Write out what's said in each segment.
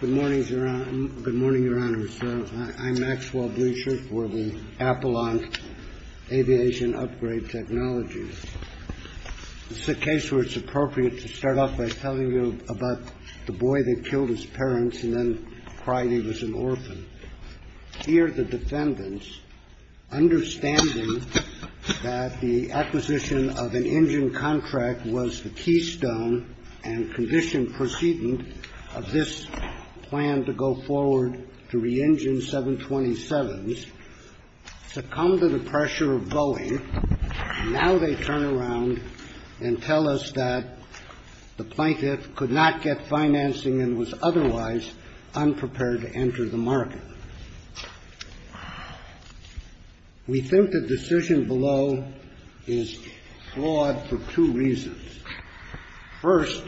Good morning, Your Honor. I'm Maxwell Bleasher for the Appalachian Aviation Upgrade Technologies. This is a case where it's appropriate to start off by telling you about the boy that killed his parents and then cried he was an orphan. Here the defendants, understanding that the acquisition of an engine contract was the keystone and conditioned precedent of this plan to go forward to re-engine 727s, succumbed to the pressure of Boeing. Now they turn around and tell us that the plaintiff could not get financing and was otherwise unprepared to enter the market. We think the decision below is flawed for two reasons. First,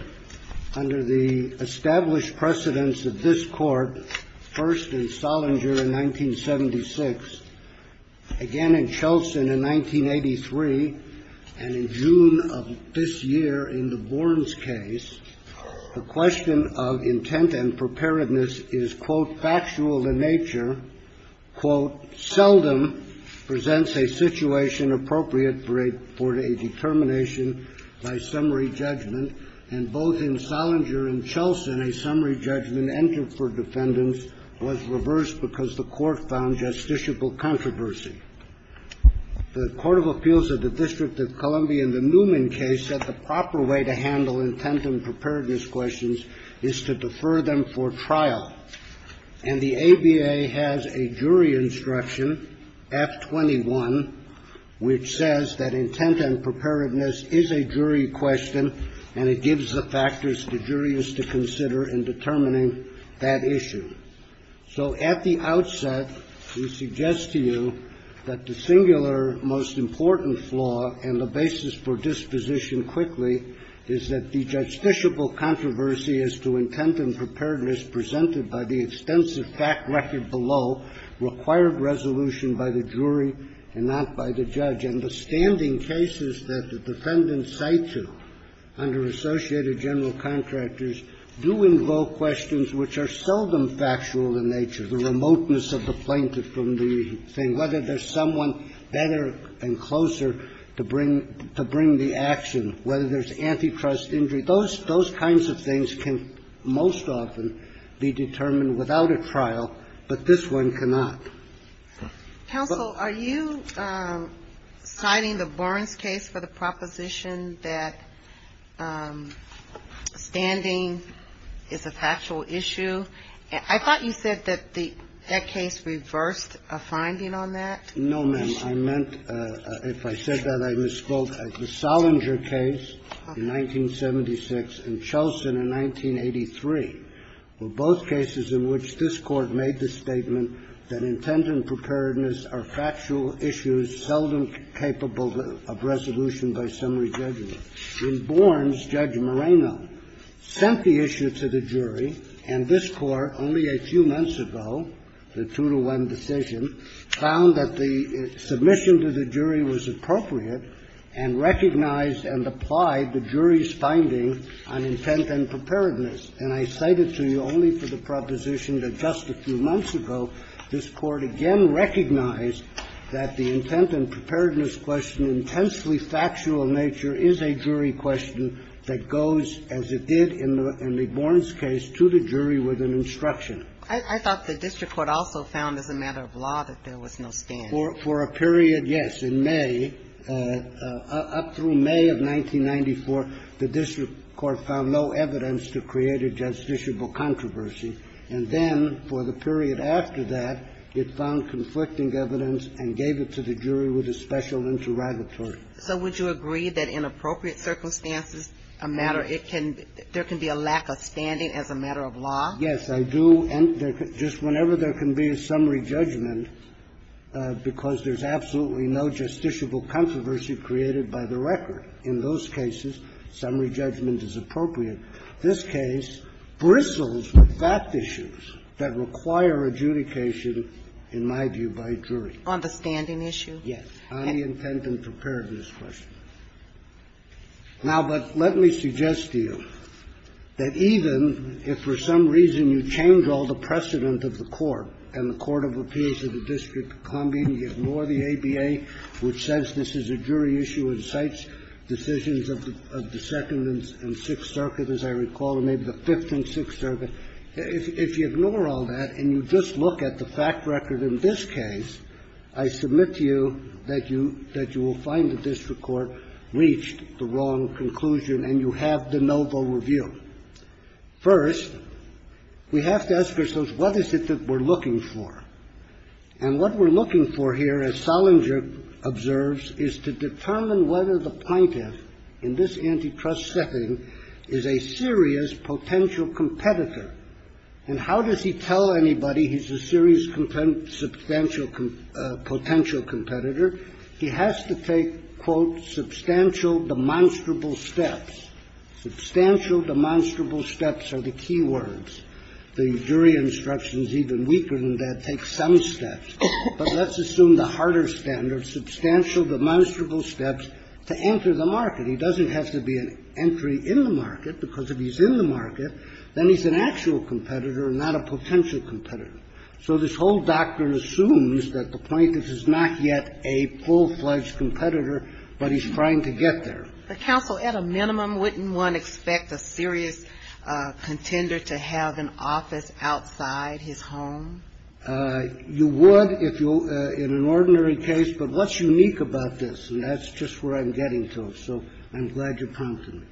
under the established precedence of this Court, first in Sollinger in 1976, again in Chelson in 1983, and in June of this year in the Borns case, the question of intent and preparedness is, quote, factual in nature, quote, seldom presents a situation appropriate for a determination by summary judgment. And both in Sollinger and Chelson, a summary judgment entered for defendants was reversed because the Court found justiciable controversy. The Court of Appeals of the District of Columbia in the Newman case said the proper way to handle intent and preparedness questions is to defer them for trial. And the ABA has a jury instruction, F21, which says that intent and preparedness is a jury question and it gives the factors the jury is to consider in determining that issue. So at the outset, we suggest to you that the singular most important flaw and the basis for disposition quickly is that the justiciable controversy as to intent and preparedness presented by the extensive fact record below required resolution by the jury and not by the judge. And the standing cases that the defendants cite to under associated general contractors do invoke questions which are seldom factual in nature. The remoteness of the plaintiff from the thing, whether there's someone better and closer to bring the action, whether there's antitrust, injury, those kinds of things can most often be determined without a trial, but this one cannot. Ginsburg. Counsel, are you citing the Burns case for the proposition that standing is a factual issue? I thought you said that the case reversed a finding on that. No, ma'am. I meant, if I said that, I misspoke. The Sollinger case in 1976 and Chelson in 1983 were both cases in which this Court made the statement that intent and preparedness are factual issues seldom capable of resolution by summary judgment. In Burns, Judge Moreno sent the issue to the jury, and this Court, only a few months ago, the two-to-one decision, found that the submission to the jury was appropriate and recognized and applied the jury's finding on intent and preparedness. And I cite it to you only for the proposition that just a few months ago, this Court again recognized that the intent and preparedness question intensely factual in nature is a jury question that goes, as it did in the Burns case, to the jury with an instruction. I thought the district court also found as a matter of law that there was no standing. For a period, yes. In May, up through May of 1994, the district court found no evidence to create a justiciable controversy, and then for the period after that, it found conflicting evidence and gave it to the jury with a special interrogatory. So would you agree that in appropriate circumstances, a matter of law, there can be a lack of standing as a matter of law? Yes, I do. And just whenever there can be a summary judgment, because there's absolutely no justiciable controversy created by the record, in those cases, summary judgment is appropriate. This case bristles with fact issues that require adjudication, in my view, by jury. On the standing issue? Yes, on the intent and preparedness question. Now, but let me suggest to you that even if for some reason you change all the precedent of the court and the court of appeals of the district combine, you ignore the ABA, which says this is a jury issue and cites decisions of the Second and Sixth Circuit, as I recall, and maybe the Fifth and Sixth Circuit, if you ignore all that and you just look at the fact record in this case, I submit to you that you will find the wrong conclusion and you have de novo review. First, we have to ask ourselves, what is it that we're looking for? And what we're looking for here, as Sollinger observes, is to determine whether the plaintiff in this antitrust setting is a serious potential competitor. And how does he tell anybody he's a serious potential competitor? He has to take, quote, substantial demonstrable steps. Substantial demonstrable steps are the key words. The jury instructions, even weaker than that, take some steps. But let's assume the harder standard, substantial demonstrable steps to enter the market. He doesn't have to be an entry in the market, because if he's in the market, then he's an actual competitor and not a potential competitor. So this whole doctrine assumes that the plaintiff is not yet a full-fledged competitor, but he's trying to get there. The counsel, at a minimum, wouldn't want to expect a serious contender to have an office outside his home? You would if you're in an ordinary case, but what's unique about this, and that's just where I'm getting to, so I'm glad you're prompting me.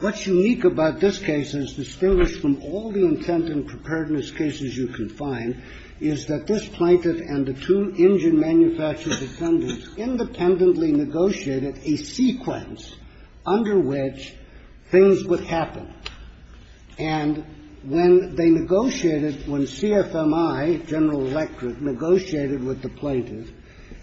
What's unique about this case is distinguished from all the intent and preparedness cases you can find, is that this plaintiff and the two engine manufacturer defendants independently negotiated a sequence under which things would happen. And when they negotiated, when CFMI, General Electric, negotiated with the plaintiff,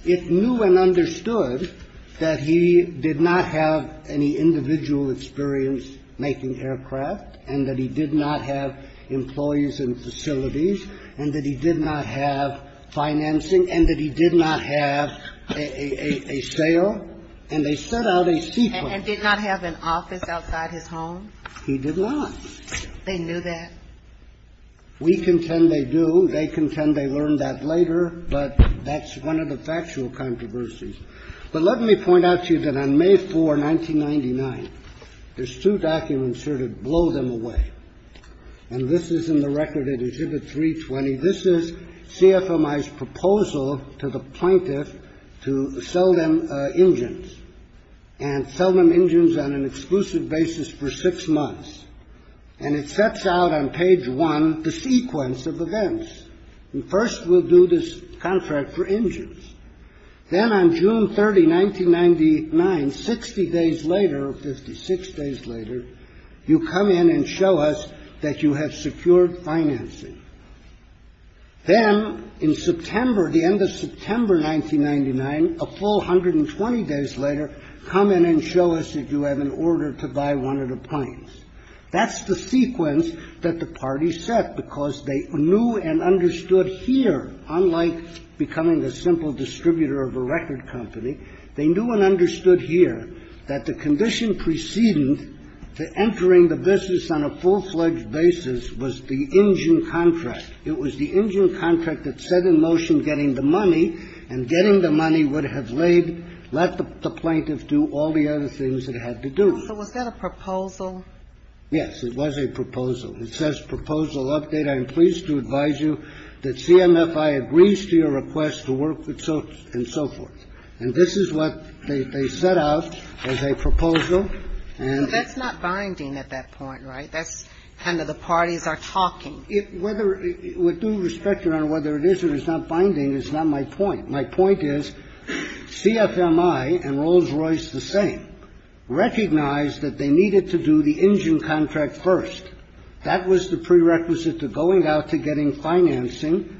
it knew and understood that he did not have any individual experience making aircraft and that he did not have employees in facilities and that he did not have financing and that he did not have a sale, and they set out a sequence. And did not have an office outside his home? He did not. They knew that? We contend they do. They contend they learned that later, but that's one of the factual controversies. But let me point out to you that on May 4, 1999, there's two documents here that blow them away, and this is in the record at Exhibit 320. This is CFMI's proposal to the plaintiff to sell them engines and sell them engines on an exclusive basis for six months, and it sets out on page one the sequence of events. Then on June 30, 1999, 60 days later or 56 days later, you come in and show us that you have secured financing. Then in September, the end of September 1999, a full 120 days later, come in and show us that you have an order to buy one of the planes. That's the sequence that the parties set because they knew and understood here, unlike becoming a simple distributor of a record company, they knew and understood here that the condition preceding the entering the business on a full-fledged basis was the engine contract. It was the engine contract that set in motion getting the money, and getting the money would have let the plaintiff do all the other things it had to do. So was that a proposal? Yes, it was a proposal. It says, proposal update, I am pleased to advise you that CMFI agrees to your request to work with so and so forth. And this is what they set out as a proposal. And it's not binding at that point, right? That's kind of the parties are talking. With due respect, Your Honor, whether it is or is not binding is not my point. My point is CFMI and Rolls-Royce the same recognized that they needed to do the engine contract first. That was the prerequisite to going out to getting financing.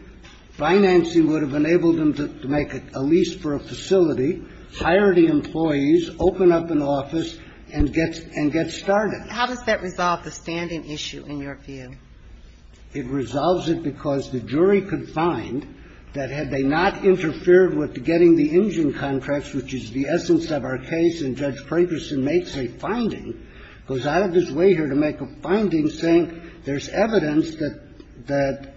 Financing would have enabled them to make a lease for a facility, hire the employees, open up an office, and get started. How does that resolve the standing issue, in your view? It resolves it because the jury could find that had they not interfered with getting the engine contracts, which is the essence of our case, and Judge Prankerson makes a finding, goes out of his way here to make a finding saying there's evidence that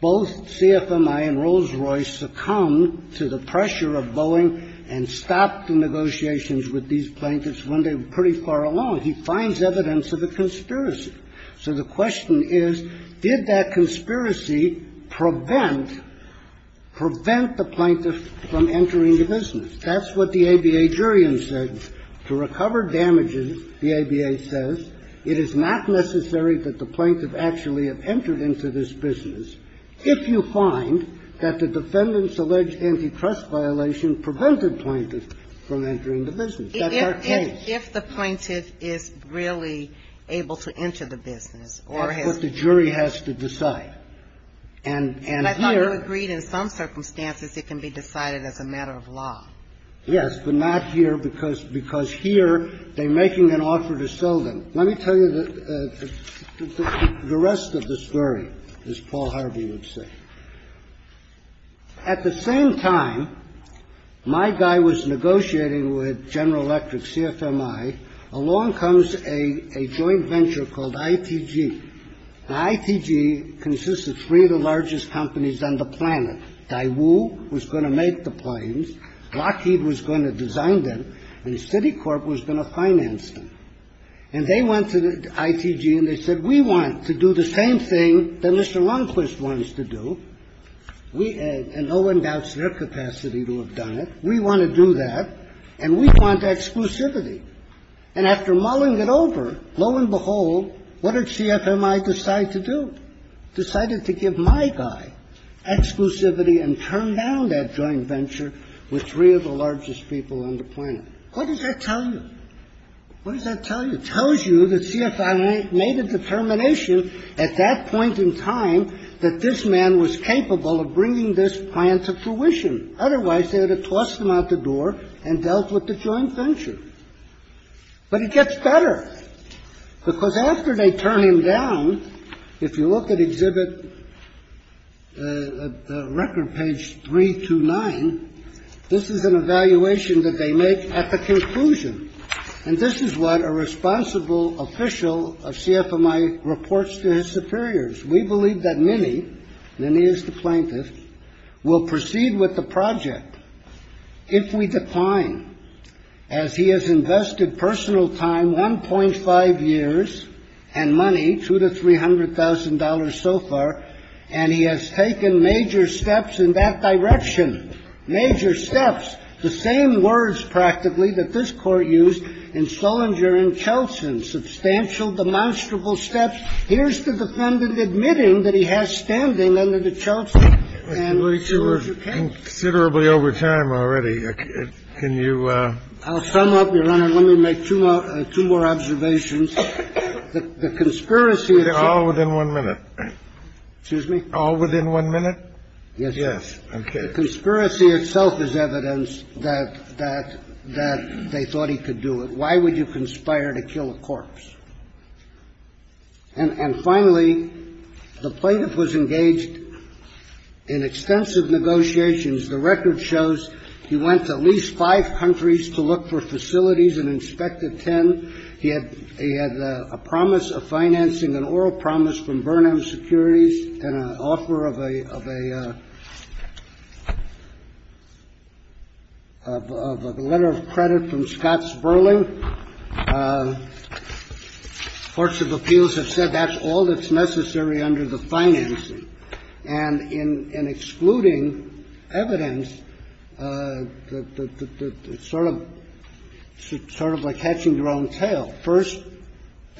both CFMI and Rolls-Royce succumbed to the pressure of Boeing and stopped the negotiations with these plaintiffs when they were pretty far along. He finds evidence of a conspiracy. So the question is, did that conspiracy prevent, prevent the plaintiffs from entering the business? That's what the ABA jury in said. To recover damages, the ABA says, it is not necessary that the plaintiff actually have entered into this business if you find that the defendant's alleged antitrust violation prevented plaintiffs from entering the business. That's our case. If the plaintiff is really able to enter the business or has to decide. That's what the jury has to decide. And here you agreed in some circumstances it can be decided as a matter of law. Yes, but not here because here they're making an offer to sell them. Let me tell you the rest of the story, as Paul Harvey would say. At the same time, my guy was negotiating with General Electric, CFMI. Along comes a joint venture called ITG. Now, ITG consists of three of the largest companies on the planet. Daewoo was going to make the planes. Lockheed was going to design them. And Citicorp was going to finance them. And they went to the ITG and they said, we want to do the same thing that Mr. Lundquist wants to do. We, and no one doubts their capacity to have done it. We want to do that. And we want exclusivity. And after mulling it over, lo and behold, what did CFMI decide to do? Decided to give my guy exclusivity and turn down that joint venture with three of the largest people on the planet. What does that tell you? What does that tell you? It tells you that CFMI made a determination at that point in time that this man was capable of bringing this plan to fruition. Otherwise, they would have tossed him out the door and dealt with the joint venture. But it gets better. Because after they turn him down, if you look at exhibit record page three to nine, this is an evaluation that they make at the conclusion. And this is what a responsible official of CFMI reports to his superiors. We believe that many, many as the plaintiff, will proceed with the project. If we decline, as he has invested personal time, 1.5 years, and money, $200,000 to $300,000 so far, and he has taken major steps in that direction, major steps, the same words, practically, that this Court used in Sollinger and Chelsen, substantial, demonstrable steps. Here's the defendant admitting that he has standing under the Chelsen. And we're sure you can. Kennedy. You're considerably over time already. Can you? I'll sum up, Your Honor. Let me make two more observations. The conspiracy itself. All within one minute. Excuse me? All within one minute? Yes. Yes. The conspiracy itself is evidence that they thought he could do it. Why would you conspire to kill a corpse? And finally, the plaintiff was engaged in extensive negotiations. The record shows he went to at least five countries to look for facilities and inspected ten. He had a promise of financing, an oral promise from Burnham Securities, and an offer of a letter of credit from Scott Sperling. And then courts of appeals have said that's all that's necessary under the financing. And in excluding evidence, it's sort of like catching your own tail. First,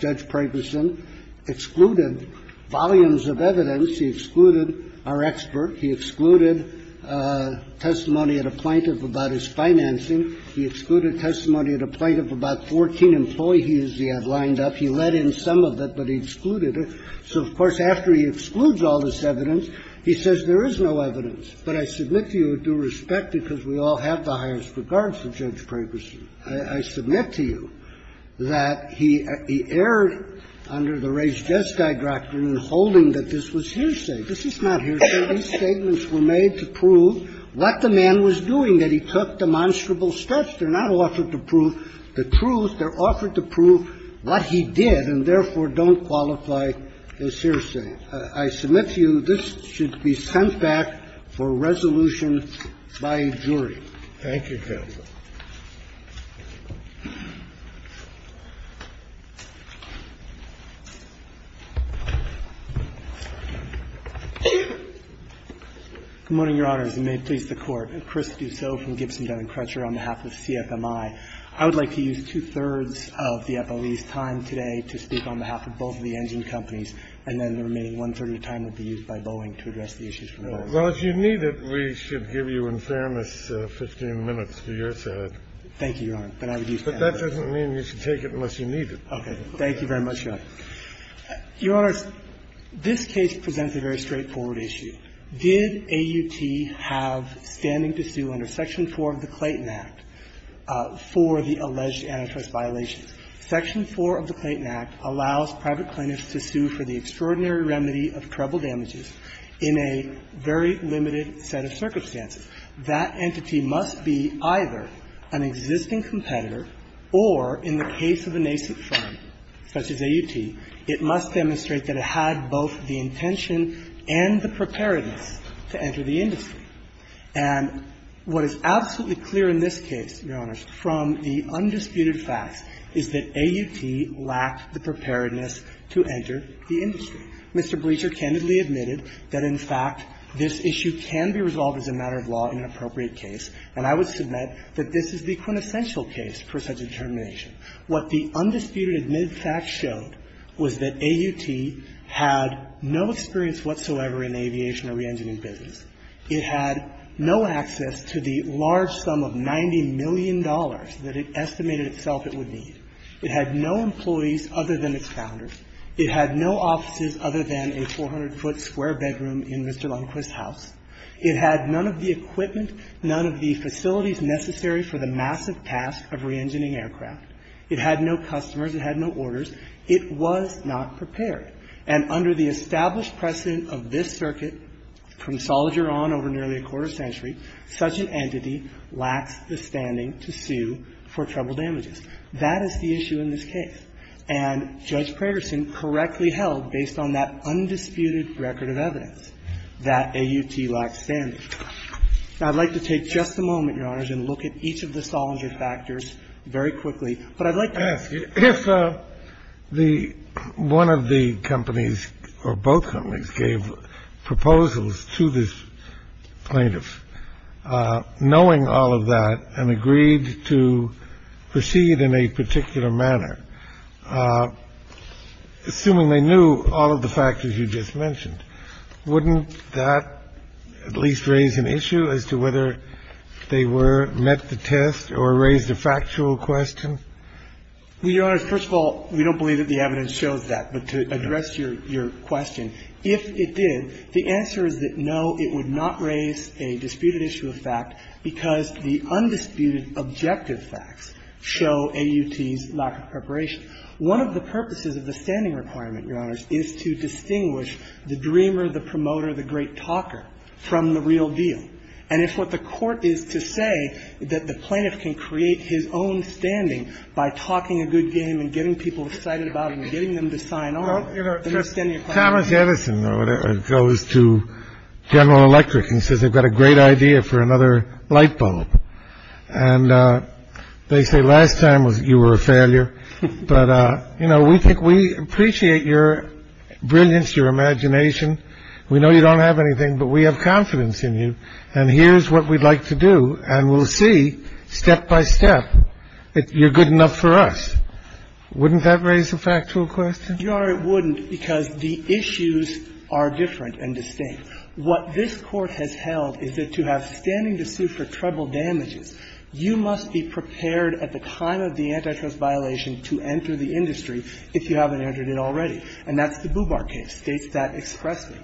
Judge Pragerson excluded volumes of evidence. He excluded our expert. He excluded testimony at a plaintiff about his financing. He excluded testimony at a plaintiff about 14 employees he had lined up. He let in some of it, but he excluded it. So, of course, after he excludes all this evidence, he says there is no evidence. But I submit to you with due respect, because we all have the highest regards of Judge Pragerson, I submit to you that he erred under the Reyes-Jeskei doctrine in holding that this was hearsay. This is not hearsay. These statements were made to prove what the man was doing, that he took demonstrable steps. They're not offered to prove the truth. They're offered to prove what he did and, therefore, don't qualify as hearsay. I submit to you this should be sent back for resolution by a jury. Thank you, counsel. Good morning, Your Honors. And may it please the Court. I'm Chris Dussault from Gibson-Dunning Crutcher on behalf of CFMI. I would like to use two-thirds of the FOE's time today to speak on behalf of both of the engine companies, and then the remaining one-third of the time would be used by Boeing to address the issues from Boeing. Well, if you need it, we should give you, in fairness, 15 minutes to your side. Thank you, Your Honor. But I would use half of it. But that doesn't mean you should take it unless you need it. Okay. Thank you very much, Your Honor. Your Honors, this case presents a very straightforward issue. Did AUT have standing to sue under Section 4 of the Clayton Act for the alleged antitrust violations? Section 4 of the Clayton Act allows private plaintiffs to sue for the extraordinary damages in a very limited set of circumstances. That entity must be either an existing competitor or, in the case of a nascent firm such as AUT, it must demonstrate that it had both the intention and the preparedness to enter the industry. And what is absolutely clear in this case, Your Honors, from the undisputed facts, is that AUT lacked the preparedness to enter the industry. Mr. Breecher candidly admitted that, in fact, this issue can be resolved as a matter of law in an appropriate case. And I would submit that this is the quintessential case for such a determination. What the undisputed admitted facts showed was that AUT had no experience whatsoever in aviation or reengineering business. It had no access to the large sum of $90 million that it estimated itself it would need. It had no employees other than its founders. It had no offices other than a 400-foot square bedroom in Mr. Lundquist's house. It had none of the equipment, none of the facilities necessary for the massive task of reengineering aircraft. It had no customers. It had no orders. It was not prepared. And under the established precedent of this circuit, from Sollinger on over nearly a quarter century, such an entity lacks the standing to sue for trouble damages. That is the issue in this case. And Judge Preterson correctly held, based on that undisputed record of evidence, that AUT lacked standing. Now, I'd like to take just a moment, Your Honors, and look at each of the Sollinger factors very quickly. But I'd like to ask if the one of the companies or both companies gave proposals to this plaintiff knowing all of that and agreed to proceed in a particular manner, assuming they knew all of the factors you just mentioned, wouldn't that at least raise an issue as to whether they were met the test or raised a factual question? Well, Your Honors, first of all, we don't believe that the evidence shows that. But to address your question, if it did, the answer is that, no, it would not raise a disputed issue of fact because the undisputed objective facts show AUT's lack of preparation. One of the purposes of the standing requirement, Your Honors, is to distinguish the dreamer, the promoter, the great talker from the real deal. And if what the court is to say that the plaintiff can create his own standing by talking a good game and getting people excited about it and getting them to sign on, then you're standing a problem. Thomas Edison goes to General Electric and says they've got a great idea for another light bulb. And they say last time you were a failure. But, you know, we think we appreciate your brilliance, your imagination. We know you don't have anything. But we have confidence in you. And here's what we'd like to do. And we'll see, step by step, that you're good enough for us. Wouldn't that raise a factual question? Your Honor, it wouldn't because the issues are different and distinct. What this Court has held is that to have standing to sue for treble damages, you must be prepared at the time of the antitrust violation to enter the industry if you haven't entered it already. And that's the Bubar case. States that expressly.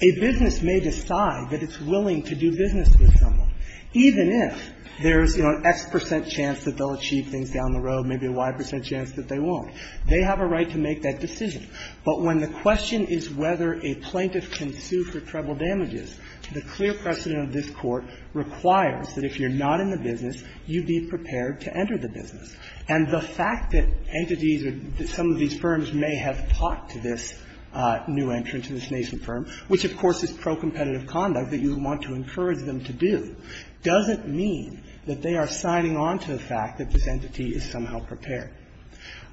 A business may decide that it's willing to do business with someone, even if there's, you know, an X percent chance that they'll achieve things down the road, maybe a Y percent chance that they won't. They have a right to make that decision. But when the question is whether a plaintiff can sue for treble damages, the clear precedent of this Court requires that if you're not in the business, you be prepared to enter the business. And the fact that entities or some of these firms may have talked to this new entrant, to this nascent firm, which, of course, is pro-competitive conduct that you would want to encourage them to do, doesn't mean that they are signing on to the fact that this entity is somehow prepared.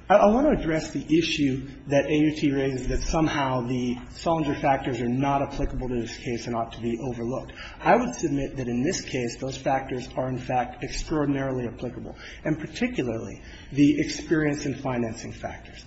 I want to address the issue that AUT raises, that somehow the Sollinger factors are not applicable to this case and ought to be overlooked. I would submit that in this case, those factors are, in fact, extraordinarily applicable, and particularly the experience and financing factors.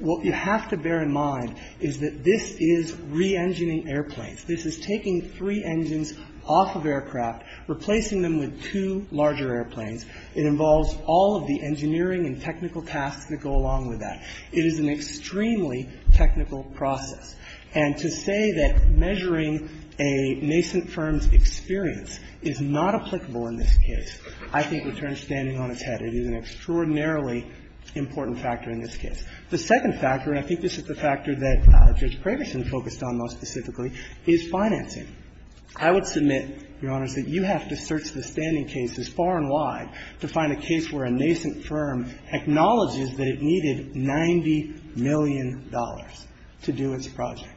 What you have to bear in mind is that this is reengineering airplanes. This is taking three engines off of aircraft, replacing them with two larger airplanes. It involves all of the engineering and technical tasks that go along with that. It is an extremely technical process. And to say that measuring a nascent firm's experience is not applicable in this case, I think, returns standing on its head. It is an extraordinarily important factor in this case. The second factor, and I think this is the factor that Judge Craigerson focused on most specifically, is financing. I would submit, Your Honors, that you have to search the standing cases far and wide to find a case where a nascent firm acknowledges that it needed $90 million to do its project.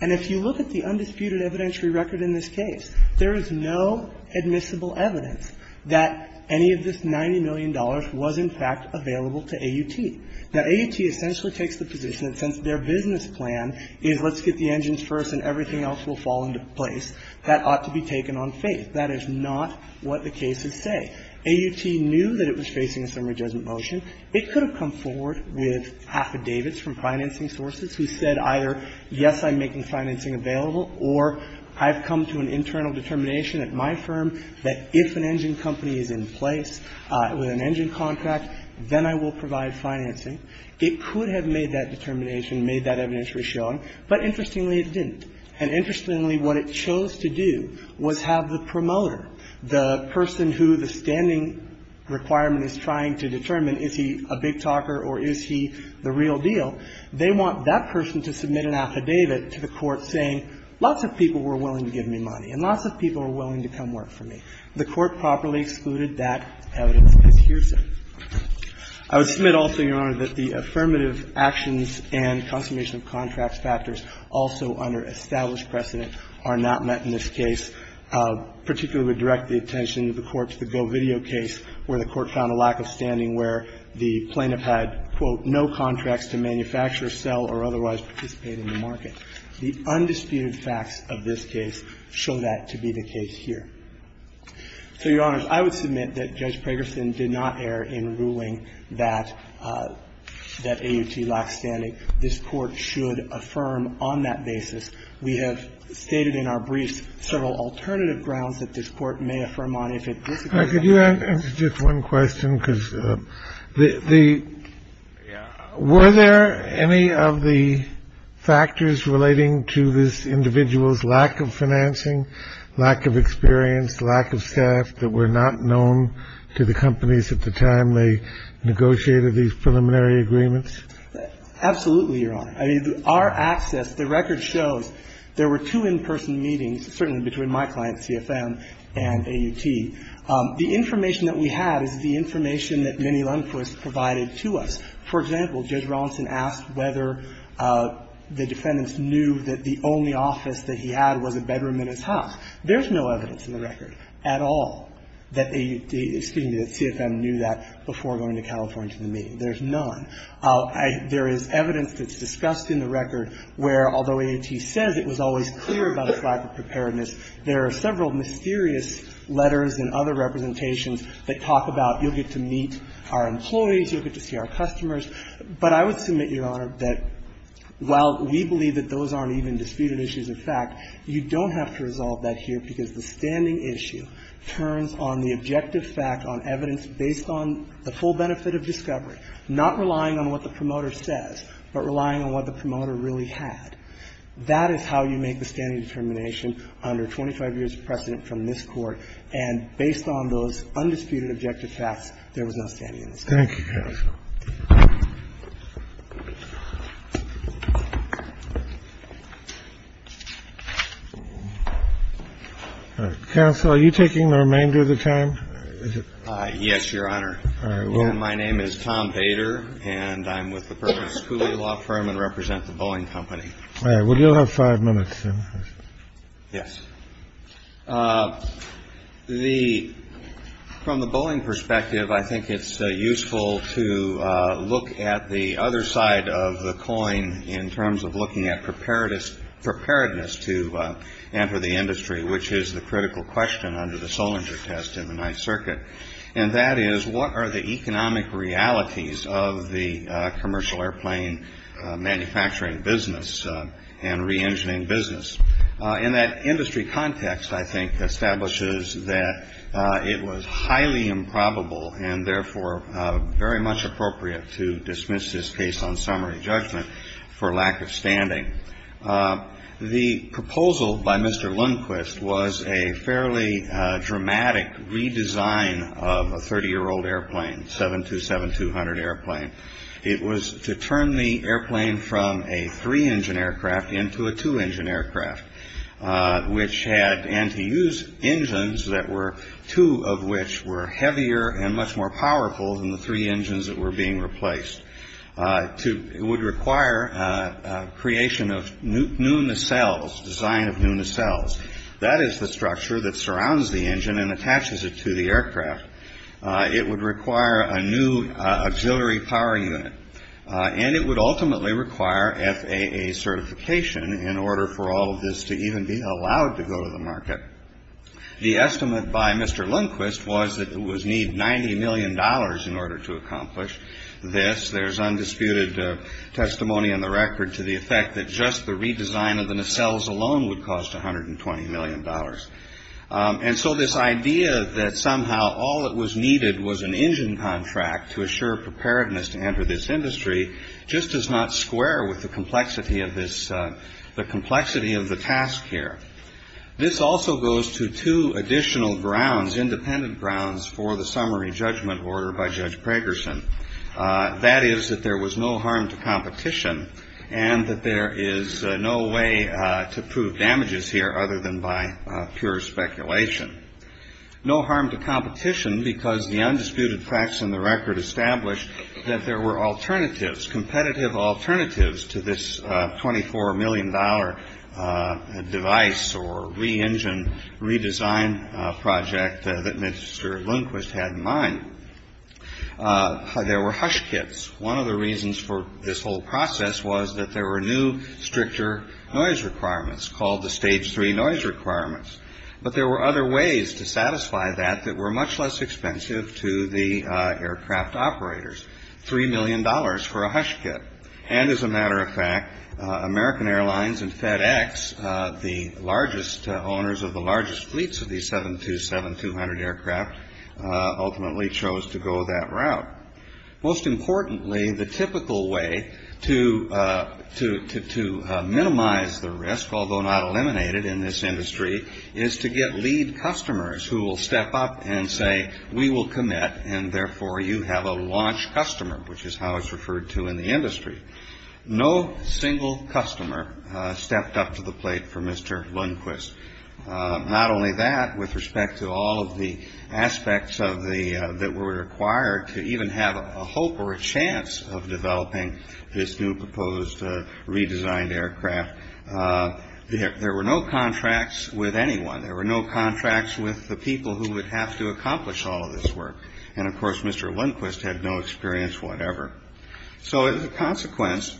And if you look at the undisputed evidentiary record in this case, there is no admissible evidence that any of this $90 million was, in fact, available to AUT. Now, AUT essentially takes the position that since their business plan is let's get the engines first and everything else will fall into place, that ought to be taken on faith. That is not what the cases say. AUT knew that it was facing a summary judgment motion. It could have come forward with affidavits from financing sources who said either, yes, I'm making financing available, or I've come to an internal determination at my firm that if an engine company is in place with an engine contract, then I will provide financing. It could have made that determination, made that evidentiary showing. But interestingly, it didn't. And interestingly, what it chose to do was have the promoter, the person who the standing requirement is trying to determine, is he a big talker or is he the real deal, they want that person to submit an affidavit to the court saying, lots of people were willing to give me money and lots of people were willing to come work for me. The Court properly excluded that evidence. I would submit also, Your Honor, that the affirmative actions and consummation of contracts factors also under established precedent are not met in this case, particularly would direct the attention of the Court to the GoVideo case where the Court found a lack of standing where the plaintiff had, quote, no contracts to manufacture, sell, or otherwise participate in the market. The undisputed facts of this case show that to be the case here. So, Your Honor, I would submit that Judge Pragerson did not err in ruling that AUT lacks standing. This Court should affirm on that basis. We have stated in our briefs several alternative grounds that this Court may affirm on if it disagrees. Kennedy. Could you answer just one question? Because the – were there any of the factors relating to this individual's lack of financing, lack of experience, lack of staff that were not known to the companies at the time they negotiated these preliminary agreements? Absolutely, Your Honor. I mean, our access, the record shows there were two in-person meetings, certainly between my client CFM and AUT. The information that we had is the information that Minnie Lundquist provided to us. For example, Judge Rawlinson asked whether the defendants knew that the only office that he had was a bedroom in his house. There's no evidence in the record at all that CFM knew that before going to California to the meeting. There's none. There is evidence that's discussed in the record where, although AUT says it was always clear about its lack of preparedness, there are several mysterious letters and other representations that talk about you'll get to meet our employees, you'll get to see our customers. But I would submit, Your Honor, that while we believe that those aren't even disputed issues of fact, you don't have to resolve that here because the standing issue turns on the objective fact, on evidence based on the full benefit of discovery, not relying on what the promoter says, but relying on what the promoter really had. That is how you make the standing determination under 25 years of precedent from this Court, and based on those undisputed objective facts, there was no standing in the statute. Thank you, Counsel. Counsel, are you taking the remainder of the time? Yes, Your Honor. My name is Tom Bader, and I'm with the Perkins Cooley Law Firm and represent the Boeing Company. All right. Well, you'll have five minutes. Yes. From the Boeing perspective, I think it's useful to look at the other side of the coin in terms of looking at preparedness to enter the industry, which is the critical question under the Solinger test in the Ninth Circuit, and that is what are the economic realities of the commercial airplane manufacturing business and reengineering business? And that industry context, I think, establishes that it was highly improbable and therefore very much appropriate to dismiss this case on summary judgment for lack of standing. The proposal by Mr. Lundquist was a fairly dramatic redesign of a 30-year-old airplane, 727-200 airplane. It was to turn the airplane from a three-engine aircraft into a two-engine aircraft, which had anti-use engines, two of which were heavier and much more powerful than the three engines that were being replaced. It would require creation of new nacelles, design of new nacelles. That is the structure that surrounds the engine and attaches it to the aircraft. It would require a new auxiliary power unit, and it would ultimately require FAA certification in order for all of this to even be allowed to go to the market. The estimate by Mr. Lundquist was that it would need $90 million in order to accomplish this. There's undisputed testimony in the record to the effect that just the redesign of the nacelles alone would cost $120 million. And so this idea that somehow all that was needed was an engine contract to assure preparedness to enter this industry just does not square with the complexity of this, the complexity of the task here. This also goes to two additional grounds, independent grounds, for the summary judgment order by Judge Pragerson. That is that there was no harm to competition and that there is no way to prove damages here other than by pure speculation. No harm to competition because the undisputed facts in the record establish that there were alternatives, competitive alternatives to this $24 million device or re-engine, redesign project that Mr. Lundquist had in mind. There were hush kits. One of the reasons for this whole process was that there were new, stricter noise requirements called the Stage 3 noise requirements. But there were other ways to satisfy that that were much less expensive to the aircraft operators, $3 million for a hush kit. And as a matter of fact, American Airlines and FedEx, the largest owners of the largest fleets of the 727-200 aircraft, ultimately chose to go that route. Most importantly, the typical way to minimize the risk, although not eliminate it in this industry, is to get lead customers who will step up and say, we will commit and therefore you have a launch customer, which is how it's referred to in the industry. No single customer stepped up to the plate for Mr. Lundquist. Not only that, with respect to all of the aspects that were required to even have a hope or a chance of developing this new proposed redesigned aircraft, there were no contracts with anyone. There were no contracts with the people who would have to accomplish all of this work. And of course, Mr. Lundquist had no experience whatever. So as a consequence,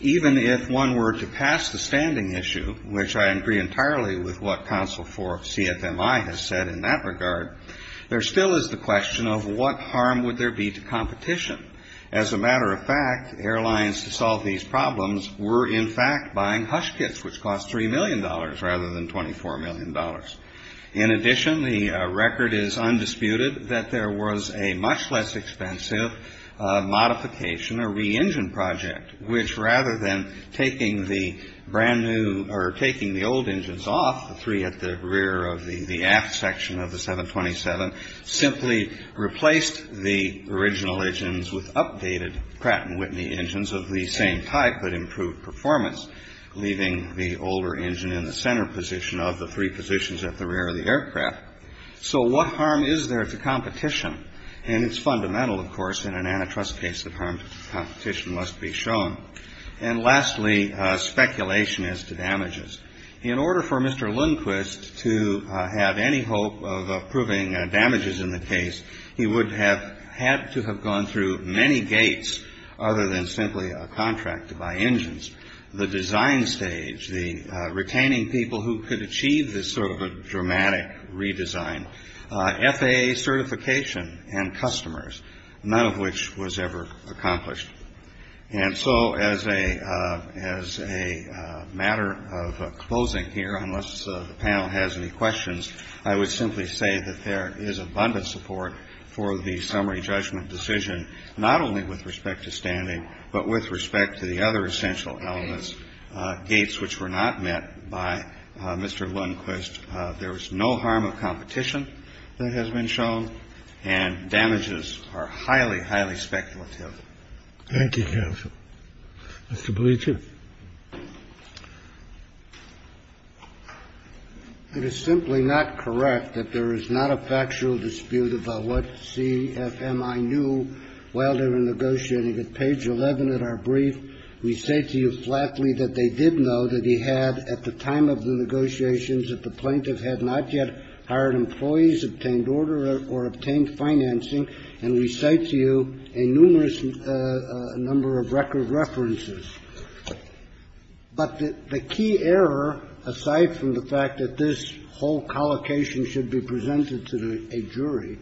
even if one were to pass the standing issue, which I agree entirely with what Council for CFMI has said in that regard, there still is the question of what harm would there be to competition? As a matter of fact, airlines to solve these problems were in fact buying hush kits, which cost $3 million rather than $24 million. In addition, the record is undisputed that there was a much less expensive modification, a re-engine project, which rather than taking the brand new or taking the old engines off, the three at the rear of the aft section of the 727, simply replaced the original engines with updated Pratt & Whitney engines of the same type, but improved performance, leaving the older engine in the center position of the three positions at the rear of the aircraft. So what harm is there to competition? And it's fundamental, of course, in an antitrust case that harm to competition must be shown. And lastly, speculation as to damages. In order for Mr. Lundquist to have any hope of approving damages in the case, he would have had to have gone through many gates other than simply a contract to buy engines. The design stage, the retaining people who could achieve this sort of a dramatic redesign, FAA certification and customers, none of which was ever accomplished. And so as a matter of closing here, unless the panel has any questions, I would simply say that there is abundant support for the summary judgment decision, not only with respect to standing, but with respect to the other essential elements, gates which were not met by Mr. Lundquist. There was no harm of competition that has been shown, and damages are highly, highly speculative. Thank you, counsel. Mr. Bleacher. It is simply not correct that there is not a factual dispute about what CFMI knew while they were negotiating. At page 11 of our brief, we say to you flatly that they did know that he had at the time of the negotiations that the plaintiff had not yet hired employees, obtained order or obtained financing, and we cite to you a numerous number of record references. But the key error, aside from the fact that this whole collocation should be presented to a jury,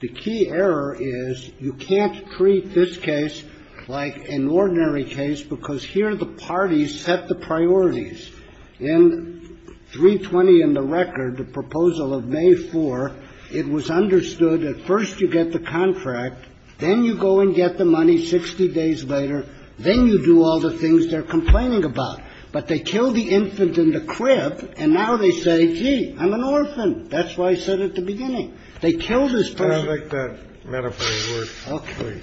the key error is you can't treat this case like an ordinary case because here the parties set the priorities. In 320 in the record, the proposal of May 4th, it was understood that first you get the contract, then you go and get the money 60 days later, then you do all the things they're complaining about. But they killed the infant in the crib, and now they say, gee, I'm an orphan. That's what I said at the beginning. They killed his parent. I don't like that metaphoric word. Okay.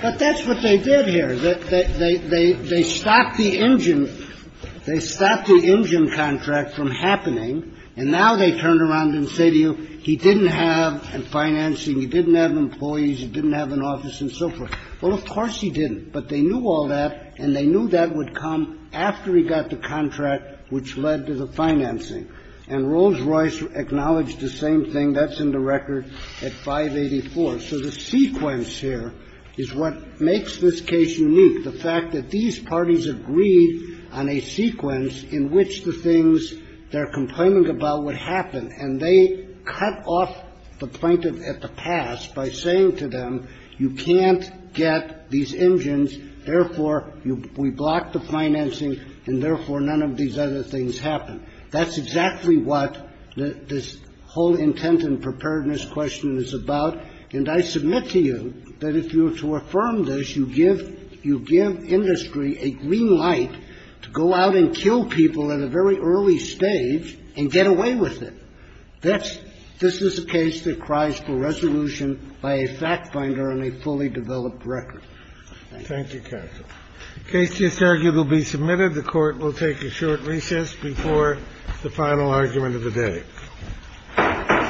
But that's what they did here. They stopped the engine. They stopped the engine contract from happening, and now they turn around and say to you, he didn't have a financing. He didn't have employees. He didn't have an office and so forth. Well, of course he didn't, but they knew all that, and they knew that would come after he got the contract, which led to the financing. And Rolls-Royce acknowledged the same thing. That's in the record at 584. So the sequence here is what makes this case unique, the fact that these parties agreed on a sequence in which the things they're complaining about would happen, and they cut off the plaintiff at the pass by saying to them, you can't get these engines, therefore we block the financing, and therefore none of these other things happen. That's exactly what this whole intent and preparedness question is about. And I submit to you that if you were to affirm this, you give industry a green light to go out and kill people at a very early stage and get away with it. This is a case that cries for resolution by a fact finder on a fully developed record. Thank you. Thank you, counsel. The case just argued will be submitted. The Court will take a short recess before the final argument of the day.